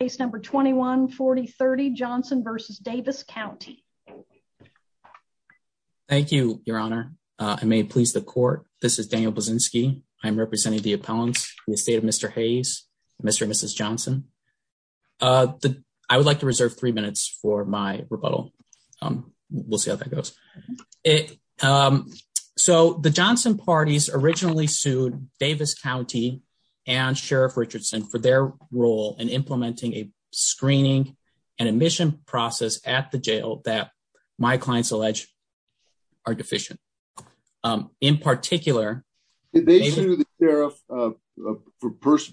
case number 2140 30 Johnson versus Davis County. Thank you, Your Honor. I may please the court. This is Daniel Buzinski. I'm representing the appellants in the state of Mr Hayes, Mr and Mrs Johnson. Uh, I would like to reserve three minutes for my rebuttal. Um, we'll see how that goes. Um, so the Johnson party's originally sued Davis County and Sheriff Richardson for their role in implementing a screening and admission process at the jail that my clients allege are deficient. Um, in particular, they do the sheriff, uh,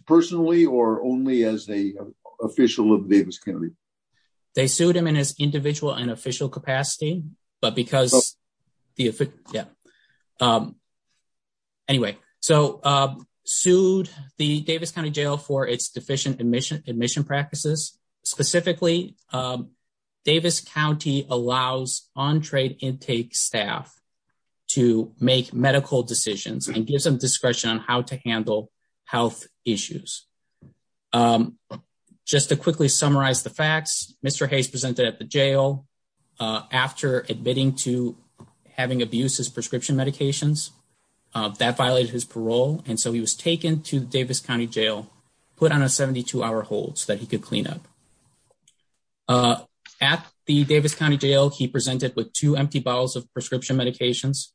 personally or only as a official of Davis County. They sued him in his individual and official capacity. But the Davis County Jail for its deficient admission admission practices. Specifically, um, Davis County allows on trade intake staff to make medical decisions and give some discretion on how to handle health issues. Um, just to quickly summarize the facts, Mr Hayes presented at the jail after admitting to having abuses, prescription medications that violated his parole. And so he was taken to Davis County Jail, put on a 72 hour hold so that he could clean up. Uh, at the Davis County Jail, he presented with two empty bottles of prescription medications.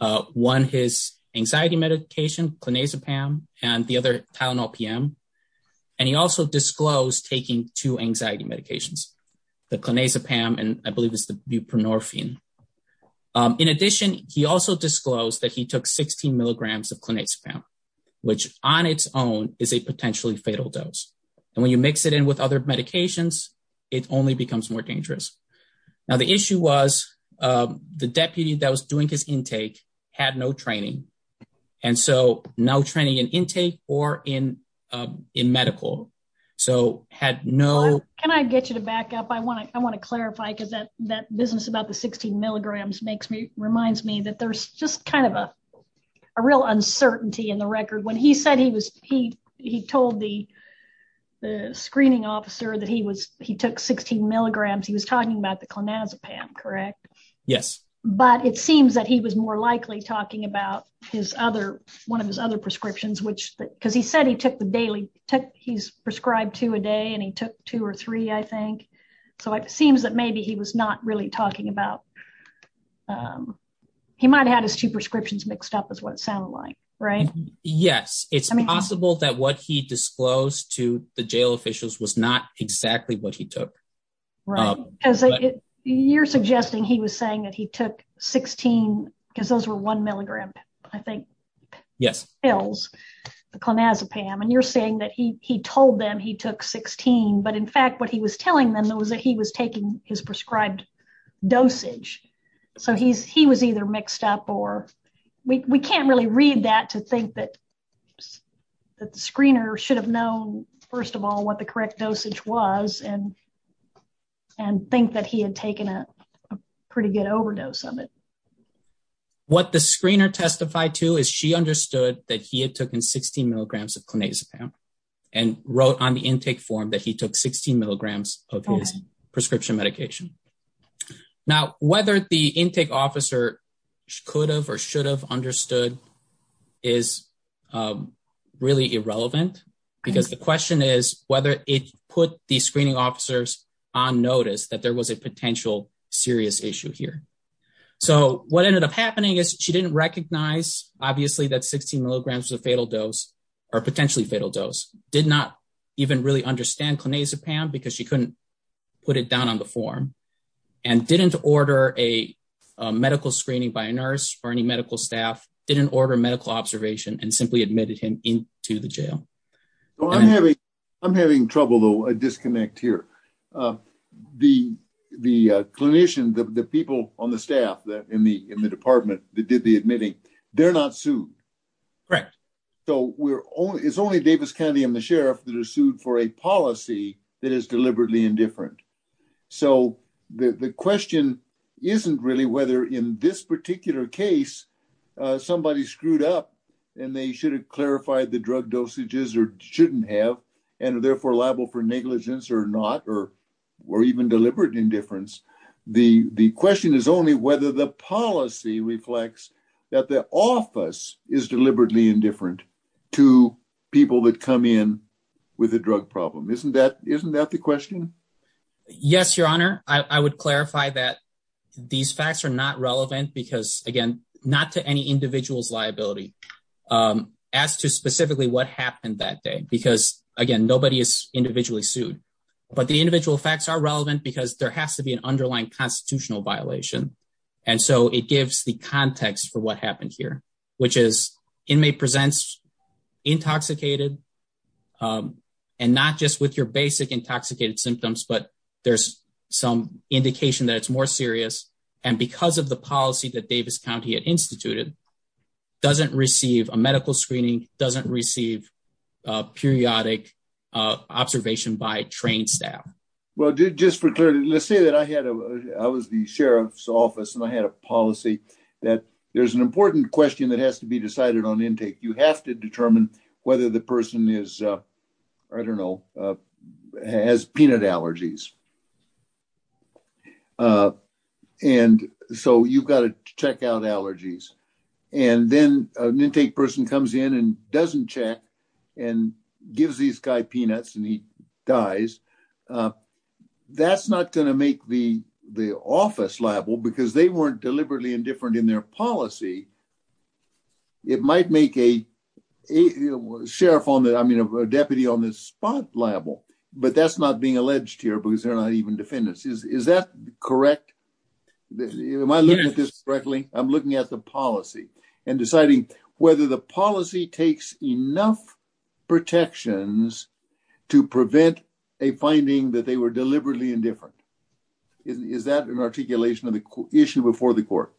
Uh, one his anxiety medication, clonazepam and the other Tylenol PM. And he also disclosed taking two anxiety medications, the clonazepam and I believe it's the of clonazepam, which on its own is a potentially fatal dose. And when you mix it in with other medications, it only becomes more dangerous. Now, the issue was, um, the deputy that was doing his intake had no training and so no training in intake or in, um, in medical. So had no, can I get you to back up? I want to, I want to clarify because that, that business about the 16 milligrams makes me reminds me that there's just kind of a, a real uncertainty in the record when he said he was, he, he told the screening officer that he was, he took 16 milligrams. He was talking about the clonazepam, correct? Yes. But it seems that he was more likely talking about his other, one of his other prescriptions, which, because he said he took the daily tech, he's prescribed two a day and he took two or three, I think. So it seems that maybe he was not really talking about, um, he might had his two prescriptions mixed up is what it sounded like, right? Yes. It's possible that what he disclosed to the jail officials was not exactly what he took. Right. You're suggesting he was saying that he took 16 because those were one milligram, I think. Yes. The clonazepam. And you're saying that he, he told them he took 16. But in fact, what he was telling them that was that his prescribed dosage. So he's, he was either mixed up or we can't really read that to think that the screener should have known first of all, what the correct dosage was and, and think that he had taken a pretty good overdose of it. What the screener testified to is she understood that he had taken 16 milligrams of clonazepam and wrote on the intake form that he took 16 milligrams of his prescription medication. Now, whether the intake officer could have or should have understood is really irrelevant because the question is whether it put the screening officers on notice that there was a potential serious issue here. So what ended up happening is she didn't recognize obviously that 16 milligrams was a fatal dose or potentially fatal dose did not even really understand clonazepam because she couldn't put it down on the form and didn't order a medical screening by a nurse or any medical staff didn't order medical observation and simply admitted him into the jail. I'm having, I'm having trouble though. A disconnect here. Uh, the, the clinician, the people on the staff that in the, in the department that did the admitting, they're not sued. Right. So we're only, it's only Davis County and the sheriff that are sued for a policy that is deliberately indifferent. So the question isn't really whether in this particular case, uh, somebody screwed up and they should have clarified the drug dosages or shouldn't have, and therefore liable for negligence or not, or, or even deliberate indifference. The, the question is only whether the policy reflects that the office is deliberately indifferent to people that come in with a drug problem. Isn't that, isn't that the question? Yes, your honor. I would clarify that these facts are not relevant because again, not to any individual's liability. Um, as to specifically what happened that day, because again, nobody is has to be an underlying constitutional violation. And so it gives the context for what happened here, which is inmate presents intoxicated. Um, and not just with your basic intoxicated symptoms, but there's some indication that it's more serious. And because of the policy that Davis County had instituted doesn't receive a medical screening, doesn't receive a periodic observation by trained staff. Well, just for clarity, let's say that I had a, I was the sheriff's office and I had a policy that there's an important question that has to be decided on intake. You have to determine whether the person is, uh, I don't know, uh, has peanut allergies. Uh, and so you've got to check out allergies and then an intake person comes in and doesn't check and gives these guy peanuts and he dies. Uh, that's not going to make the, the office liable because they weren't deliberately indifferent in their policy. It might make a sheriff on that. I mean, a deputy on this spot liable, but that's not being alleged here because they're not even defendants. Is, is that correct? Am I looking at this correctly? I'm looking at the policy and deciding whether the to prevent a finding that they were deliberately indifferent. Is that an articulation of the issue before the court?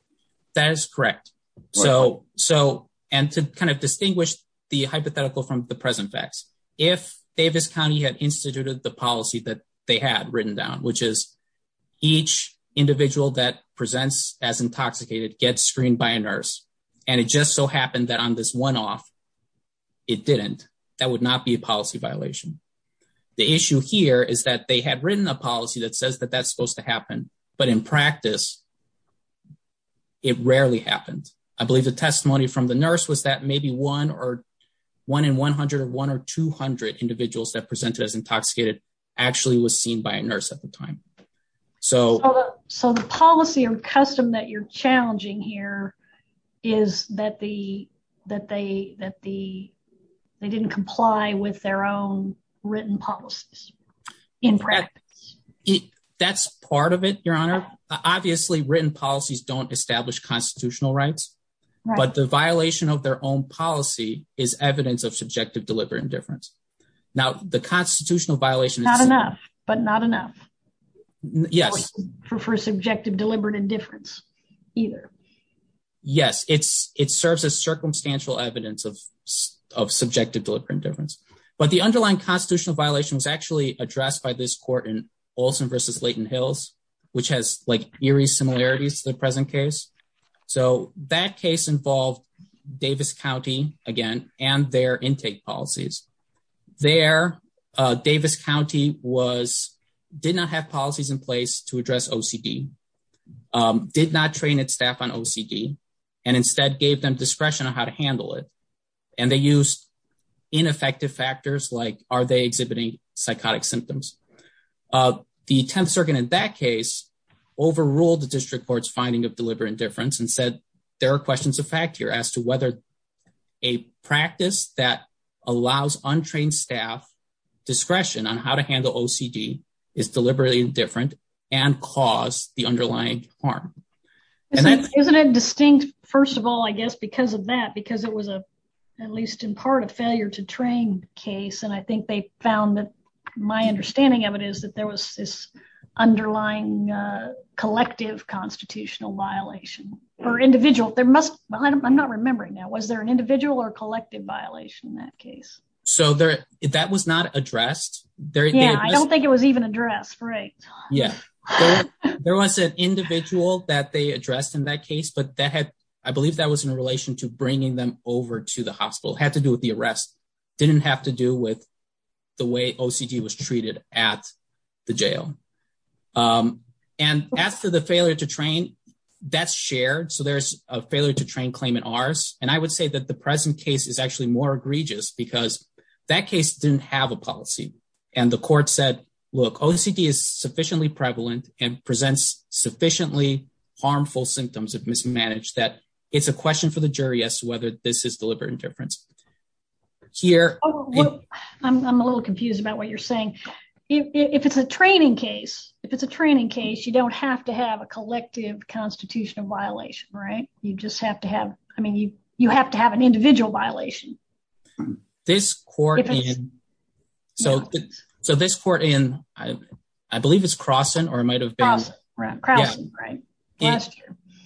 That is correct. So, so, and to kind of distinguish the hypothetical from the present facts, if Davis County had instituted the policy that they had written down, which is each individual that presents as intoxicated, get screened by a nurse. And it just so happened that on this one off, it didn't, that would not be a policy violation. The issue here is that they had written a policy that says that that's supposed to happen, but in practice it rarely happened. I believe the testimony from the nurse was that maybe one or one in 100 or one or 200 individuals that presented as intoxicated actually was seen by a nurse at the time. So, so the policy or custom that you're challenging here is that the, that they, that the, they didn't comply with their own written policies in practice. That's part of it. Your honor, obviously written policies don't establish constitutional rights, but the violation of their own policy is evidence of subjective deliberate indifference. Now the constitutional violation is not enough, but not enough for, for subjective deliberate indifference either. Yes, it's, it serves as circumstantial evidence of, of subjective deliberate indifference, but the underlying constitutional violation was actually addressed by this court in Olson versus Layton Hills, which has like eerie similarities to the present case. So that case involved Davis County again, and their intake policies there. Uh, Davis County was, did not have policies in place to address OCD, um, did not train its staff on OCD and instead gave them discretion on how to handle it. And they used ineffective factors like are they exhibiting psychotic symptoms? Uh, the 10th circuit in that case overruled the district court's finding of deliberate difference and said, there are questions of fact here as to whether a practice that allows untrained staff discretion on how to handle OCD is deliberately indifferent and cause the underlying harm. Isn't it distinct? First of all, I guess, because of that, because it was a, at least in part of failure to train case. And I think they found that my understanding of it is that there was this underlying, uh, collective constitutional violation for individual, there must, I'm not remembering now, was there an individual or collective violation in that case? So there, that was not addressed. Yeah. I don't think it was even addressed. Right. Yeah. There was an individual that they addressed in that case, but that had, I believe that was in relation to bringing them over to the hospital. Had to do with the arrest. Didn't have to do with the way OCD was treated at the jail. Um, and as for the failure to train that's shared. So there's a failure to train claim in ours. And I would say that the present case is actually more And the court said, look, OCD is sufficiently prevalent and presents sufficiently harmful symptoms of mismanage that it's a question for the jury as to whether this is deliberate indifference here. I'm a little confused about what you're saying. If it's a training case, if it's a training case, you don't have to have a collective constitutional violation, right? You just have to have, I mean, you, you have to have an individual violation. This court. So, so this court in, I believe it's crossing or it might've been right.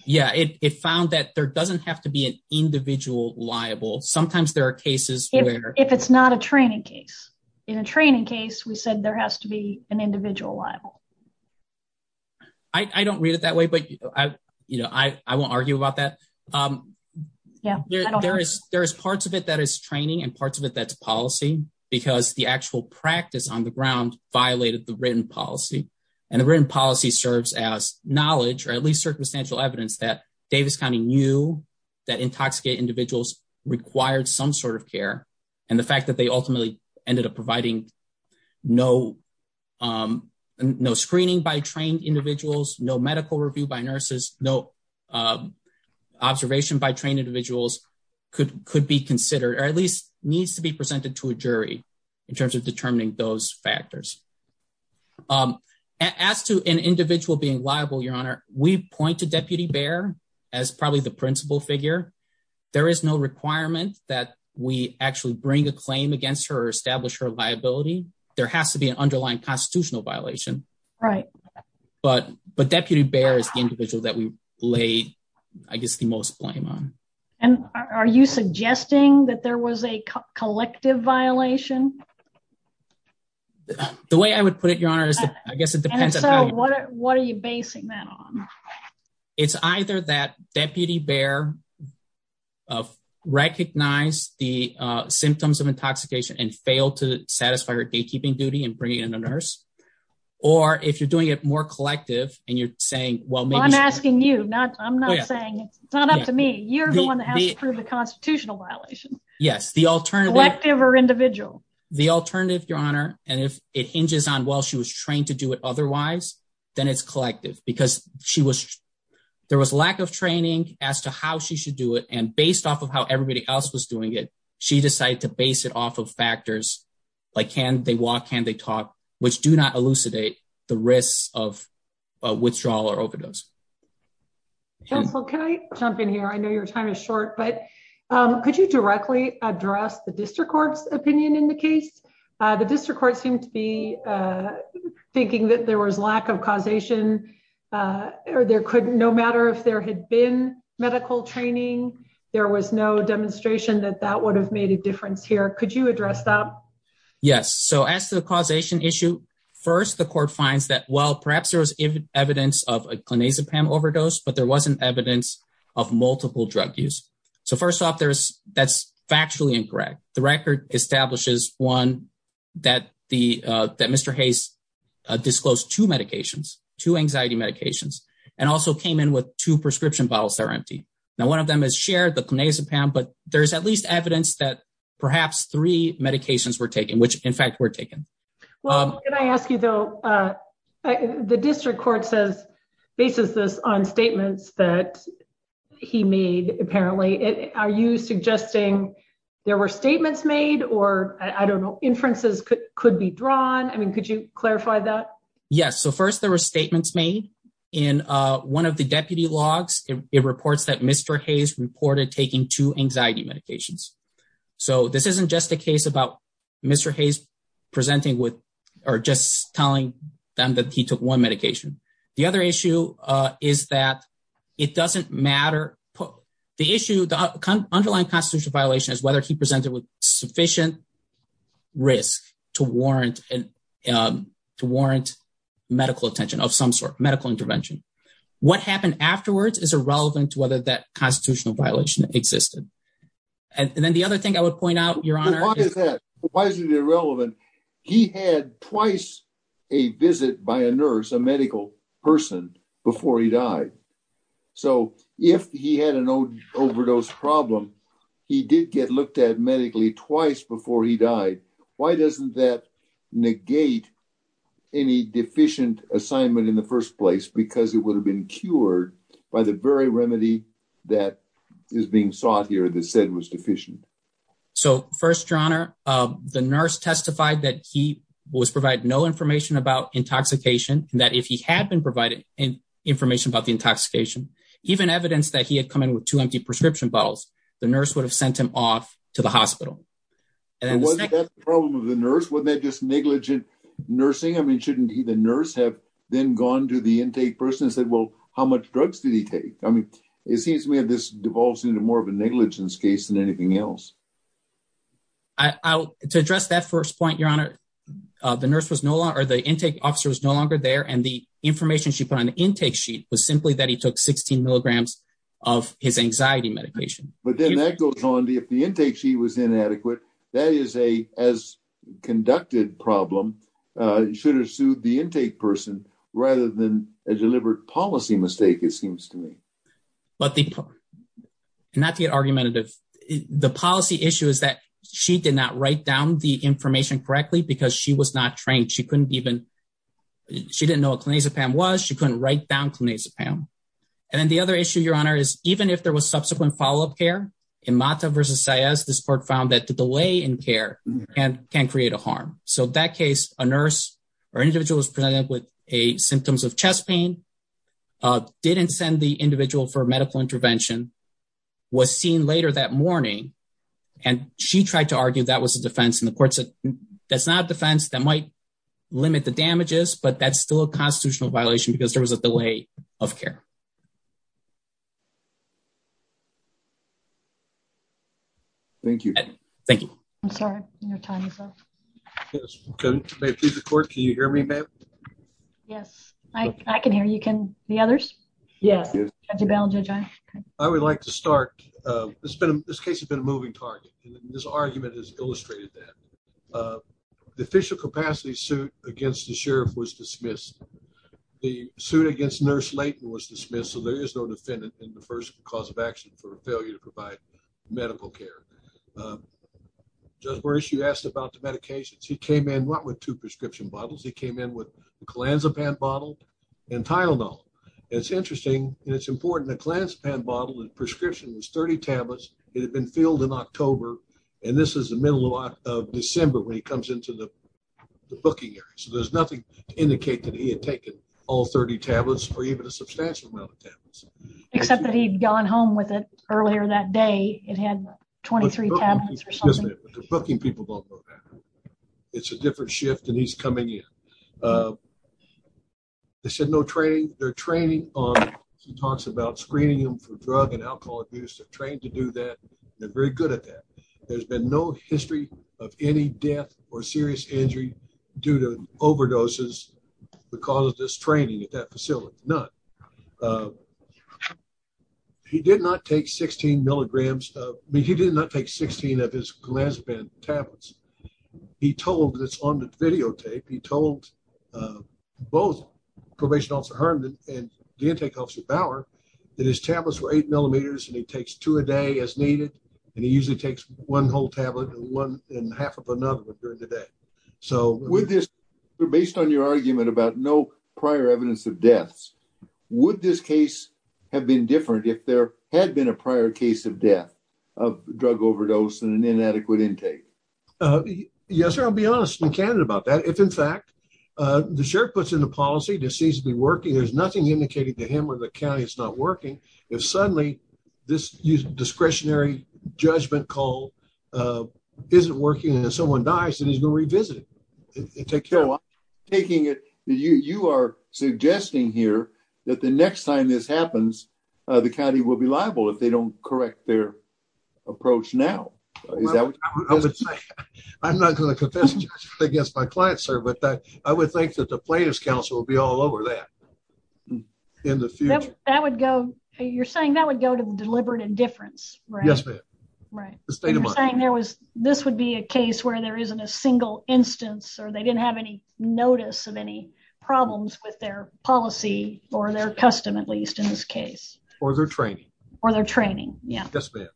Yeah. It found that there doesn't have to be an individual liable. Sometimes there are cases where if it's not a training case in a training case, we said there has to be an individual liable. I don't read it that way, but you know, I, I won't argue about that. Um, yeah, there is, there is parts of it that is training and parts of it that's policy because the actual practice on the ground violated the written policy and the written policy serves as knowledge or at least circumstantial evidence that Davis County knew that intoxicate individuals required some sort of care. And the fact that they ultimately ended up providing no, um, no screening by trained individuals, no medical review by nurses, no, um, observation by trained could, could be considered or at least needs to be presented to a jury in terms of determining those factors. Um, as to an individual being liable, your honor, we point to deputy bear as probably the principal figure. There is no requirement that we actually bring a claim against her, establish her liability. There has to be an underlying constitutional violation. Right. But, but deputy bear is the individual that we laid, I guess the most blame on. And are you suggesting that there was a collective violation? The way I would put it, your honor is that I guess it depends on what are you basing that on? It's either that deputy bear of recognize the symptoms of intoxication and failed to satisfy your gatekeeping duty and bringing in a nurse. Or if you're doing it more collective and you're saying, well, I'm asking you not, I'm not saying it's not up to me. You're the one that has to prove the constitutional violation. Yes. The alternative or individual, the alternative, your honor. And if it hinges on while she was trained to do it otherwise, then it's collective because she was, there was lack of training as to how she should do it. And based off of how everybody else was doing it, she decided to base it off of factors like, can they walk, can they talk, which do not elucidate the risks of withdrawal or overdose. Counsel, can I jump in here? I know your time is short, but um, could you directly address the district court's opinion in the case? Uh, the district court seemed to be, uh, thinking that there was lack of causation, uh, or there could no matter if there had been medical training, there was no demonstration that that would have made a difference here. Could you address that? Yes. So as to the causation issue first, the court finds that, well, perhaps there was evidence of a clonazepam overdose, but there wasn't evidence of multiple drug use. So first off, there's, that's factually incorrect. The record establishes one that the, uh, that mr Hayes disclosed two medications to anxiety medications and also came in with two prescription bottles that are empty. Now, one of them has shared the clonazepam, but there's at least evidence that perhaps three medications were taken, which in fact were taken. Um, can I ask you, though, uh, the district court says bases this on statements that he made. Apparently, are you suggesting there were statements made or I don't know, inferences could be drawn. I mean, could you clarify that? Yes. So first there were statements made in one of two anxiety medications. So this isn't just a case about Mr Hayes presenting with or just telling them that he took one medication. The other issue is that it doesn't matter. The issue, the underlying constitutional violation is whether he presented with sufficient risk to warrant, um, to warrant medical attention of some sort of medical intervention. What happened afterwards is irrelevant to whether that constitutional violation existed. And then the other thing I would point out your honor. Why is it irrelevant? He had twice a visit by a nurse, a medical person before he died. So if he had an old overdose problem, he did get looked at medically twice before he died. Why doesn't that negate any deficient assignment in the first place? Because it would have been cured by the very remedy that is being sought here that said was deficient. So first, your honor, the nurse testified that he was provide no information about intoxication, that if he had been provided information about the intoxication, even evidence that he had come in with two empty prescription bottles, the nurse would have sent him off to the hospital. And then the second problem of the nurse, wasn't that just negligent nursing? I mean, shouldn't he? The nurse have then gone to the intake person and said, well, how much drugs did he take? I mean, it seems to me that this devolves into more of a negligence case than anything else. I to address that first point, your honor, the nurse was no longer the intake officer was no longer there. And the information she put on the intake sheet was simply that he took 16 mg of his anxiety medication. But then that goes on. If the intake sheet was inadequate, that is a as conducted problem should have sued the intake person rather than a deliberate policy mistake, it seems to me. But the not to get argumentative, the policy issue is that she did not write down the information correctly because she was not trained. She couldn't even she didn't know what clonazepam was. She couldn't write down clonazepam. And then the other issue, your honor, is even if there was subsequent follow up care in motto versus says the sport found that the delay in care and can create a harm. So that case, a nurse or individual was presented with a symptoms of chest pain, uh, didn't send the individual for medical intervention was seen later that morning. And she tried to argue that was a defense in the courts. That's not a defense that might limit the damages. But that's still a constitutional violation because there was a delay of care. Thank you. Thank you. I'm sorry. Your time is up. Yes. May please record. Can you hear me, ma'am? Yes, I can hear you. Can the others? Yes. I would like to start. Uh, it's been this case has been a moving target. This argument has illustrated that, uh, the official capacity suit against the sheriff was dismissal. There is no defendant in the first cause of action for failure to provide medical care. Um, just where is she asked about the medications? He came in what with two prescription bottles. He came in with clonazepam bottle and Tylenol. It's interesting. It's important. The class pan bottle and prescription was 30 tablets. It had been filled in October, and this is the middle lot of December when he comes into the booking area. So there's nothing to indicate that he had taken all 30 tablets or even a substantial amount of tablets, except that he'd gone home with it earlier that day. It had 23 tablets. Booking people don't know that it's a different shift, and he's coming in. Uh, they said no training. They're training on. He talks about screening him for drug and alcohol abuse. They're trained to do that. They're very good at that. There's been no history of any death or serious injury due to overdoses because of this training at that facility. Not, uh, he did not take 16 milligrams. I mean, he did not take 16 of his clonazepam tablets. He told that's on the videotape. He told, uh, both probation officer Herman and the intake officer Bauer that his tablets were eight millimeters, and he takes two a day as needed, and he usually takes one whole tablet and one and half of another during the day. So with this based on your argument about no prior evidence of deaths, would this case have been different if there had been a prior case of death of drug overdose and inadequate intake? Uh, yes, sir. I'll be honest and candid about that. If, in fact, uh, the sheriff puts in the policy to season be working, there's nothing indicated to him or the county. It's not working. If suddenly this discretionary judgment call, uh, isn't working and someone dies and he's gonna revisit it, take care of taking it. You are suggesting here that the next time this happens, the county will be liable if they don't correct their approach. Now, is that what I would say? I'm not gonna confess against my client, sir, but I would think that the plaintiff's counsel will be all over that in the future. That would go. You're saying that would go to deliberate indifference, right? Yes, ma'am. Right. You're saying there was this would be a case where there isn't a single instance or they didn't have any notice of any problems with their policy or their custom, at least in this case or their training or their training. Yes, ma'am.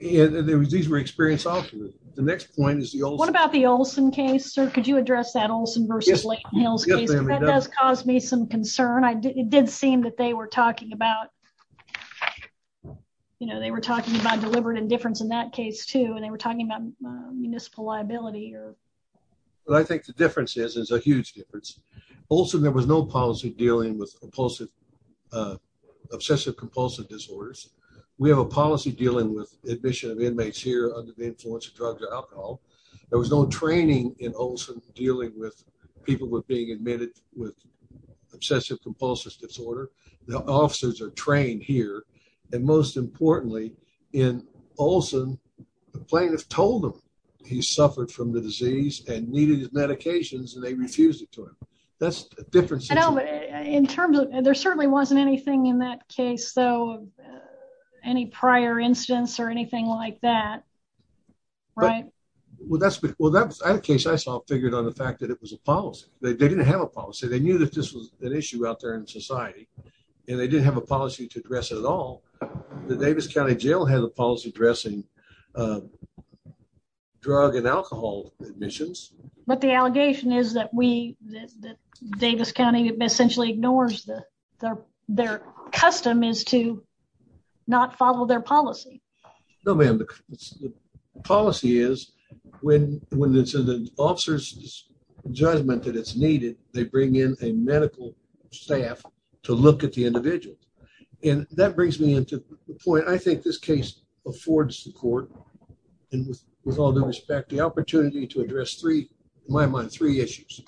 These were experienced officers. The next point is what about the Olson case, sir? Could you address that Olson versus Lake Hills? That does cause me some concern. I did. It did seem that they were talking about, you know, they were talking about deliberate indifference in that case, too. And they were talking about municipal liability here. But I think the difference is is a huge difference. Also, there was no policy dealing with oppulsive, uh, obsessive compulsive disorders. We have a policy dealing with admission of inmates here under the influence of drugs or alcohol. There was no training in Olson dealing with people with being admitted with obsessive compulsive disorder. The officers are trained here. And most importantly, in Olson, plaintiffs told him he suffered from the disease and needed his medications, and they refused it to him. That's different. I know, but in terms of there certainly wasn't anything in that case, though, any prior instance or anything like that, right? Well, that's well, that's a case I saw figured on the fact that it was a policy. They didn't have a policy. They knew that this was an issue out there in society, and they didn't have a policy to address it at all. The Davis County Jail had a policy addressing, uh, drug and alcohol admissions. But the allegation is that we Davis County essentially ignores the their custom is to not follow their policy. No, ma'am. The policy is when when it's an officer's judgment that it's needed, they bring in a medical staff to look at the individual. And that brings me into the point. I think this case affords the court and with all due respect, the opportunity to address three my mind three issues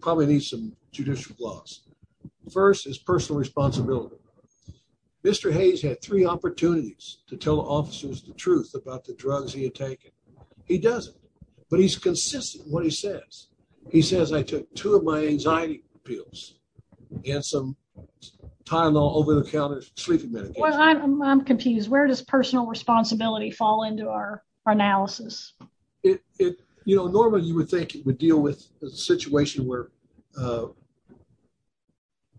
probably need some judicial gloss. First is personal responsibility. Mr Hayes had three opportunities to tell officers the truth about the drugs he had taken. He doesn't, but he's consistent. What he says. He says, I took two of my anxiety pills and some time all over the counter sleeping medication. I'm confused. Where does personal responsibility fall into our analysis? It you know, normally you would think it would deal with a situation where uh,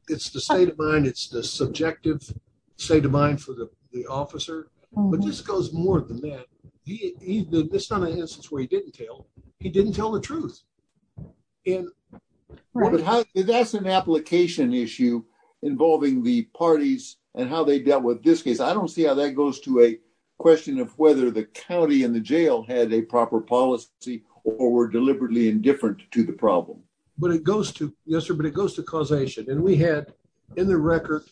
it's the state of mind. It's the subjective state of mind for the officer. But this goes more than that. He's the son of instance where he didn't tell. He didn't tell the truth. And that's an application issue involving the parties and how they dealt with this case. I don't see how that goes to a question of whether the county in the jail had a proper policy or were deliberately indifferent to the problem. But it goes to yesterday, but it goes to causation. And we had in the record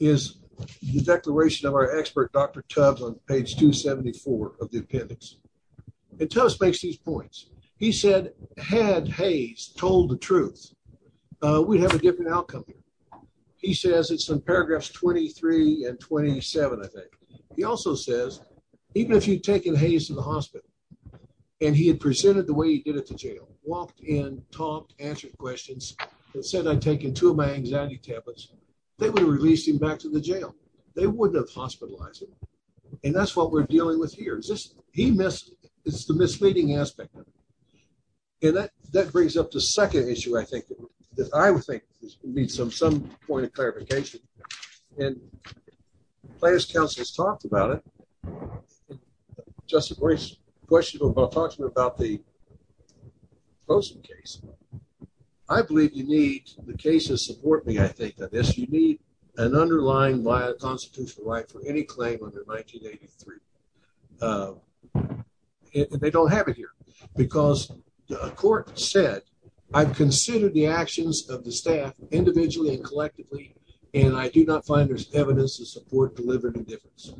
is the declaration of our expert Dr Tubbs on page 2 74 of the appendix and tell us makes these points. He said, had Hayes told the truth, we have a different outcome. He says it's some paragraphs 23 and 27. I think he also says even if you've taken Hayes in hospital and he had presented the way he did it to jail, walked in, talked, answered questions and said, I'm taking two of my anxiety tablets. They would have released him back to the jail. They wouldn't have hospitalized him. And that's what we're dealing with here. Is this he missed? It's the misleading aspect of it. And that that brings up the second issue. I think that I would think needs some some point of clarification. And players councils talked about it. Just a great question about talking about the closing case. I believe you need the cases support me. I think that this you need an underlying via constitutional right for any claim under 1983. Uh, they don't have it here because a court said I've considered the actions of the staff individually and collectively, and I do not find there's evidence of support delivered indifference.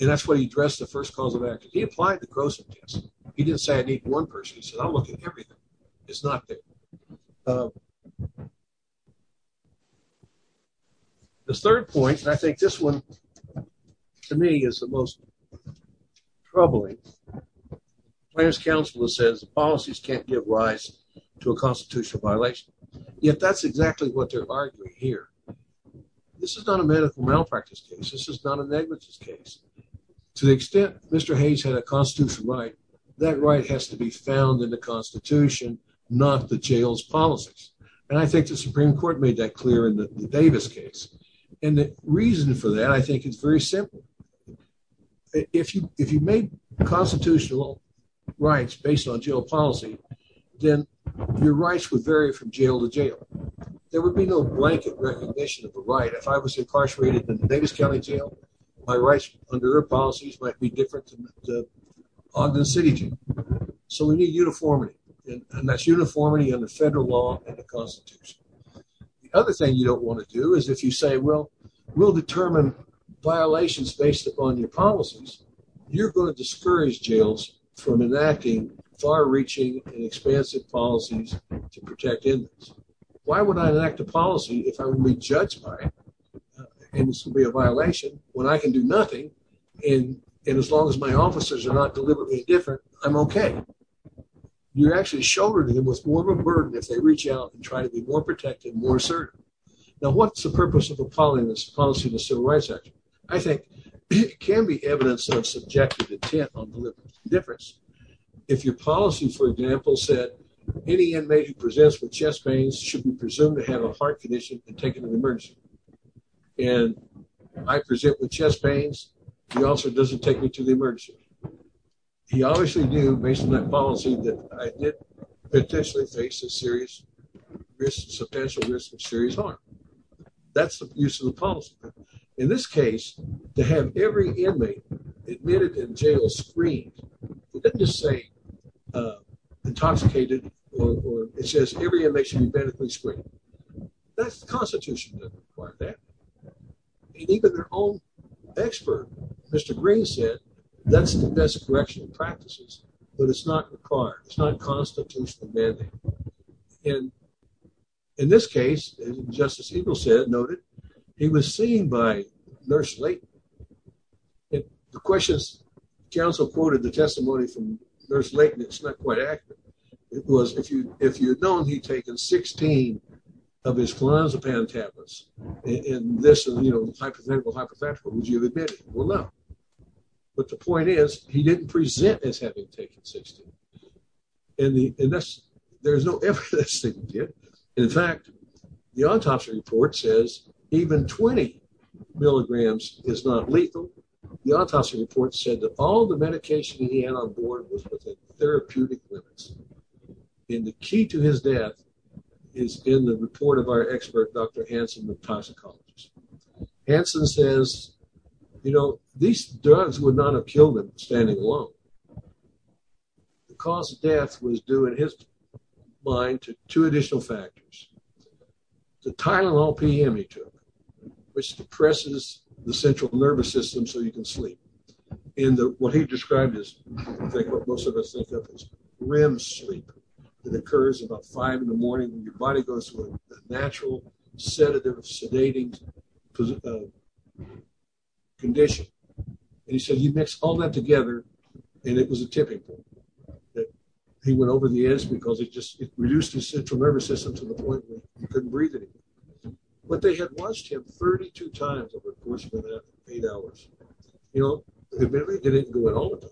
And that's what he addressed the first cause of action. He applied the gross. He didn't say I need one person. He said, I'm looking everything. It's not there. Uh, the third point, and I think this one to me is the most troubling players council that says policies can't give rise to a constitutional violation. Yet that's exactly what they're arguing here. This is not a medical malpractice case. This is not a negligence case. To the extent Mr Hayes had a constitutional right. That right has to be found in the Constitution, not the jails policies. And I think the Supreme Court made that clear in the Davis case. And the reason for that, I think it's very simple. If you if you make constitutional rights based on jail policy, then your rights would vary from jail to jail. There would be no blanket recognition of the right. If I was incarcerated in the Davis County jail, my rights under policies might be different on the city. So we need uniformity, and that's uniformity in the federal law and the Constitution. The other thing you don't want to do is if you say, well, we'll determine violations based upon your policies, you're going to discourage jails from enacting far reaching and expansive policies to protect inmates. Why would I enact a policy if I would be judged by it? And this will be a violation when I can do nothing. And as long as my officers are not deliberately different, I'm okay. You're actually shouldering them with more of a burden if they reach out and try to be more protective, more assertive. Now, what's the purpose of a policy in the Civil Rights Act? I think it can be evidence of subjective intent on any inmate who presents with chest pains should be presumed to have a heart condition and taken to the emergency. And I present with chest pains, the officer doesn't take me to the emergency. He obviously knew based on that policy that I did potentially face a serious risk, a substantial risk of serious harm. That's the use of the policy. In this case, to have every inmate admitted in jail screamed, let's just say intoxicated, or it says every inmate should be medically screamed. That's the Constitution that required that. And even their own expert, Mr. Green, said that's the best correctional practices, but it's not required. It's not a constitutional mandate. And in this case, as Justice Eagle said, noted, he was seen by Nurse Layton. The question is, counsel quoted the testimony from Nurse Layton. It's not quite accurate. It was, if you had known he'd taken 16 of his clonazepam tablets in this hypothetical hypothetical, would you have admitted? Well, no. But the point is, he didn't present as having taken 16. There's no evidence that he did. In fact, the autopsy report says even 20 milligrams is not lethal. The autopsy report said that all the medication he had on board was within therapeutic limits. And the key to his death is in the report of our expert, Dr. Hanson, of toxicology. Hanson says, you know, these drugs would not have killed him standing alone. The cause of death was due, in his mind, to two additional factors. The Tylenol PM he took, which depresses the central nervous system so you can sleep. And what he described is, I think, what most of us think of as REM sleep. It occurs about 5 in the morning when your body goes to a natural, sedative, sedating condition. And he said he mixed all that together, and it was a tipping point. That he went over the edge because it just, it reduced his central nervous system to the point where you couldn't breathe anymore. But they had watched him 32 times over the course of that eight hours. You know, admittedly, they didn't go in all the time.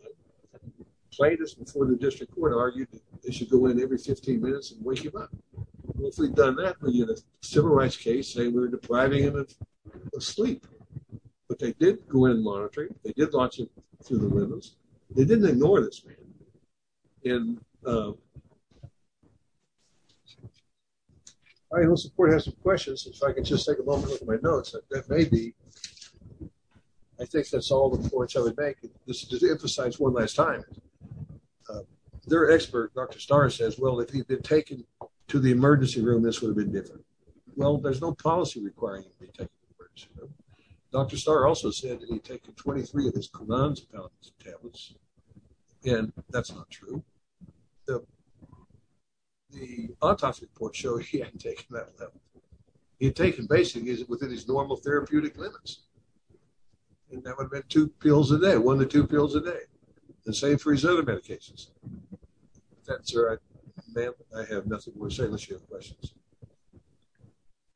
Plaintiffs before the district court argued that they should go in every 15 minutes and wake him up. If we'd done that, we'd get a civil rights case, say we're depriving him of sleep. But they did go in and monitor him. They did watch him through the rhythms. They didn't ignore this man. And I know support has some questions. If I could just take a moment with my notes. That may be, I think that's all the points I would make. This is just to emphasize one last time. Their expert, Dr. Starr, says, well, if he'd been taken to the emergency room, this would have been different. Well, there's no policy requiring him to be taken to the emergency room. Dr. Starr also said that he'd taken 23 of his Clonazepam tablets, and that's not true. The autopsy reports show he hadn't taken that level. He'd taken basically within his normal therapeutic limits. And that would have been two pills a day, one to two pills a day. The same for his other medications. That's right. I have nothing more to say unless you have questions.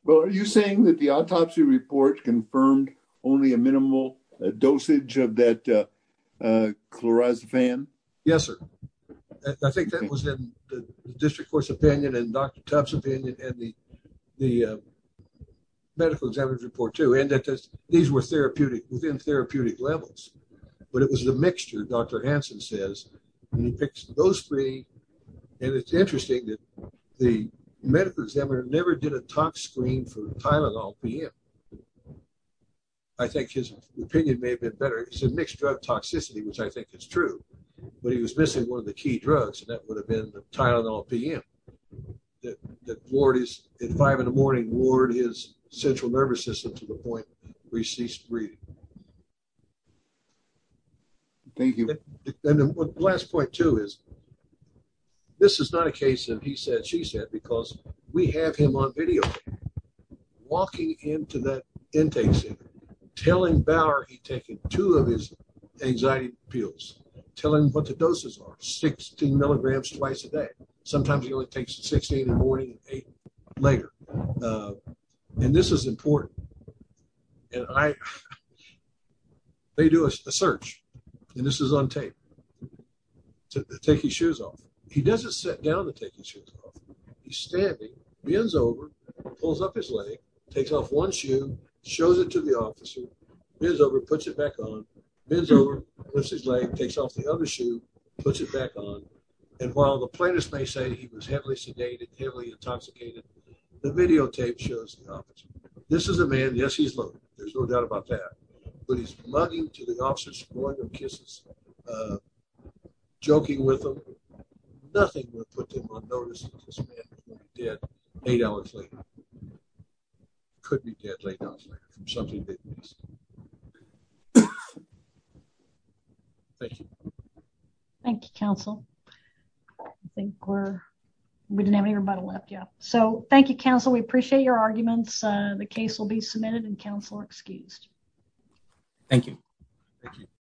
Well, are you saying that the autopsy report confirmed only a minimal dosage of that Clonazepam? Yes, sir. I think that was in the district court's opinion and Dr. Tubbs' opinion and the medical examiner's report, too. These were within therapeutic levels, but it was the mixture, Dr. Hansen says, and he picked those three. And it's interesting that the medical examiner never did a tox screen for Tylenol PM. I think his opinion may have been better. He said mixed drug toxicity, which I think is true. But he was missing one of the key drugs, and that would have been Tylenol PM. At five in the morning, Ward, his central nervous system, to the point where he ceased breathing. Thank you. And the last point, too, is this is not a case that he said, she said, because we have him on video walking into that intake center, telling Bauer he'd taken two of his anxiety pills, telling him what the doses are, 16 milligrams twice a day. Sometimes he only takes 16 in the morning and eight later. And this is important. And I, they do a search, and this is on tape, to take his shoes off. He doesn't sit down to take his shoes off. He's standing, bends over, pulls up his leg, takes off one shoe, shows it to the officer, bends over, puts it back on, bends over, lifts his leg, takes off the other shoe, puts it back on. And while the plaintiffs may say he was heavily sedated, heavily intoxicated, the videotape shows the officer. This is a man, yes, he's loaded. There's no doubt about that. But he's mugging to the officer's point of kisses, joking with him. Nothing would put him on notice of this man being dead eight hours later. Could be dead eight hours later from something they've missed. Thank you. Thank you, counsel. I think we're, we didn't have anybody left yet. So thank you, counsel. We appreciate your arguments. The case will be submitted and counsel excused. Thank you. Thank you.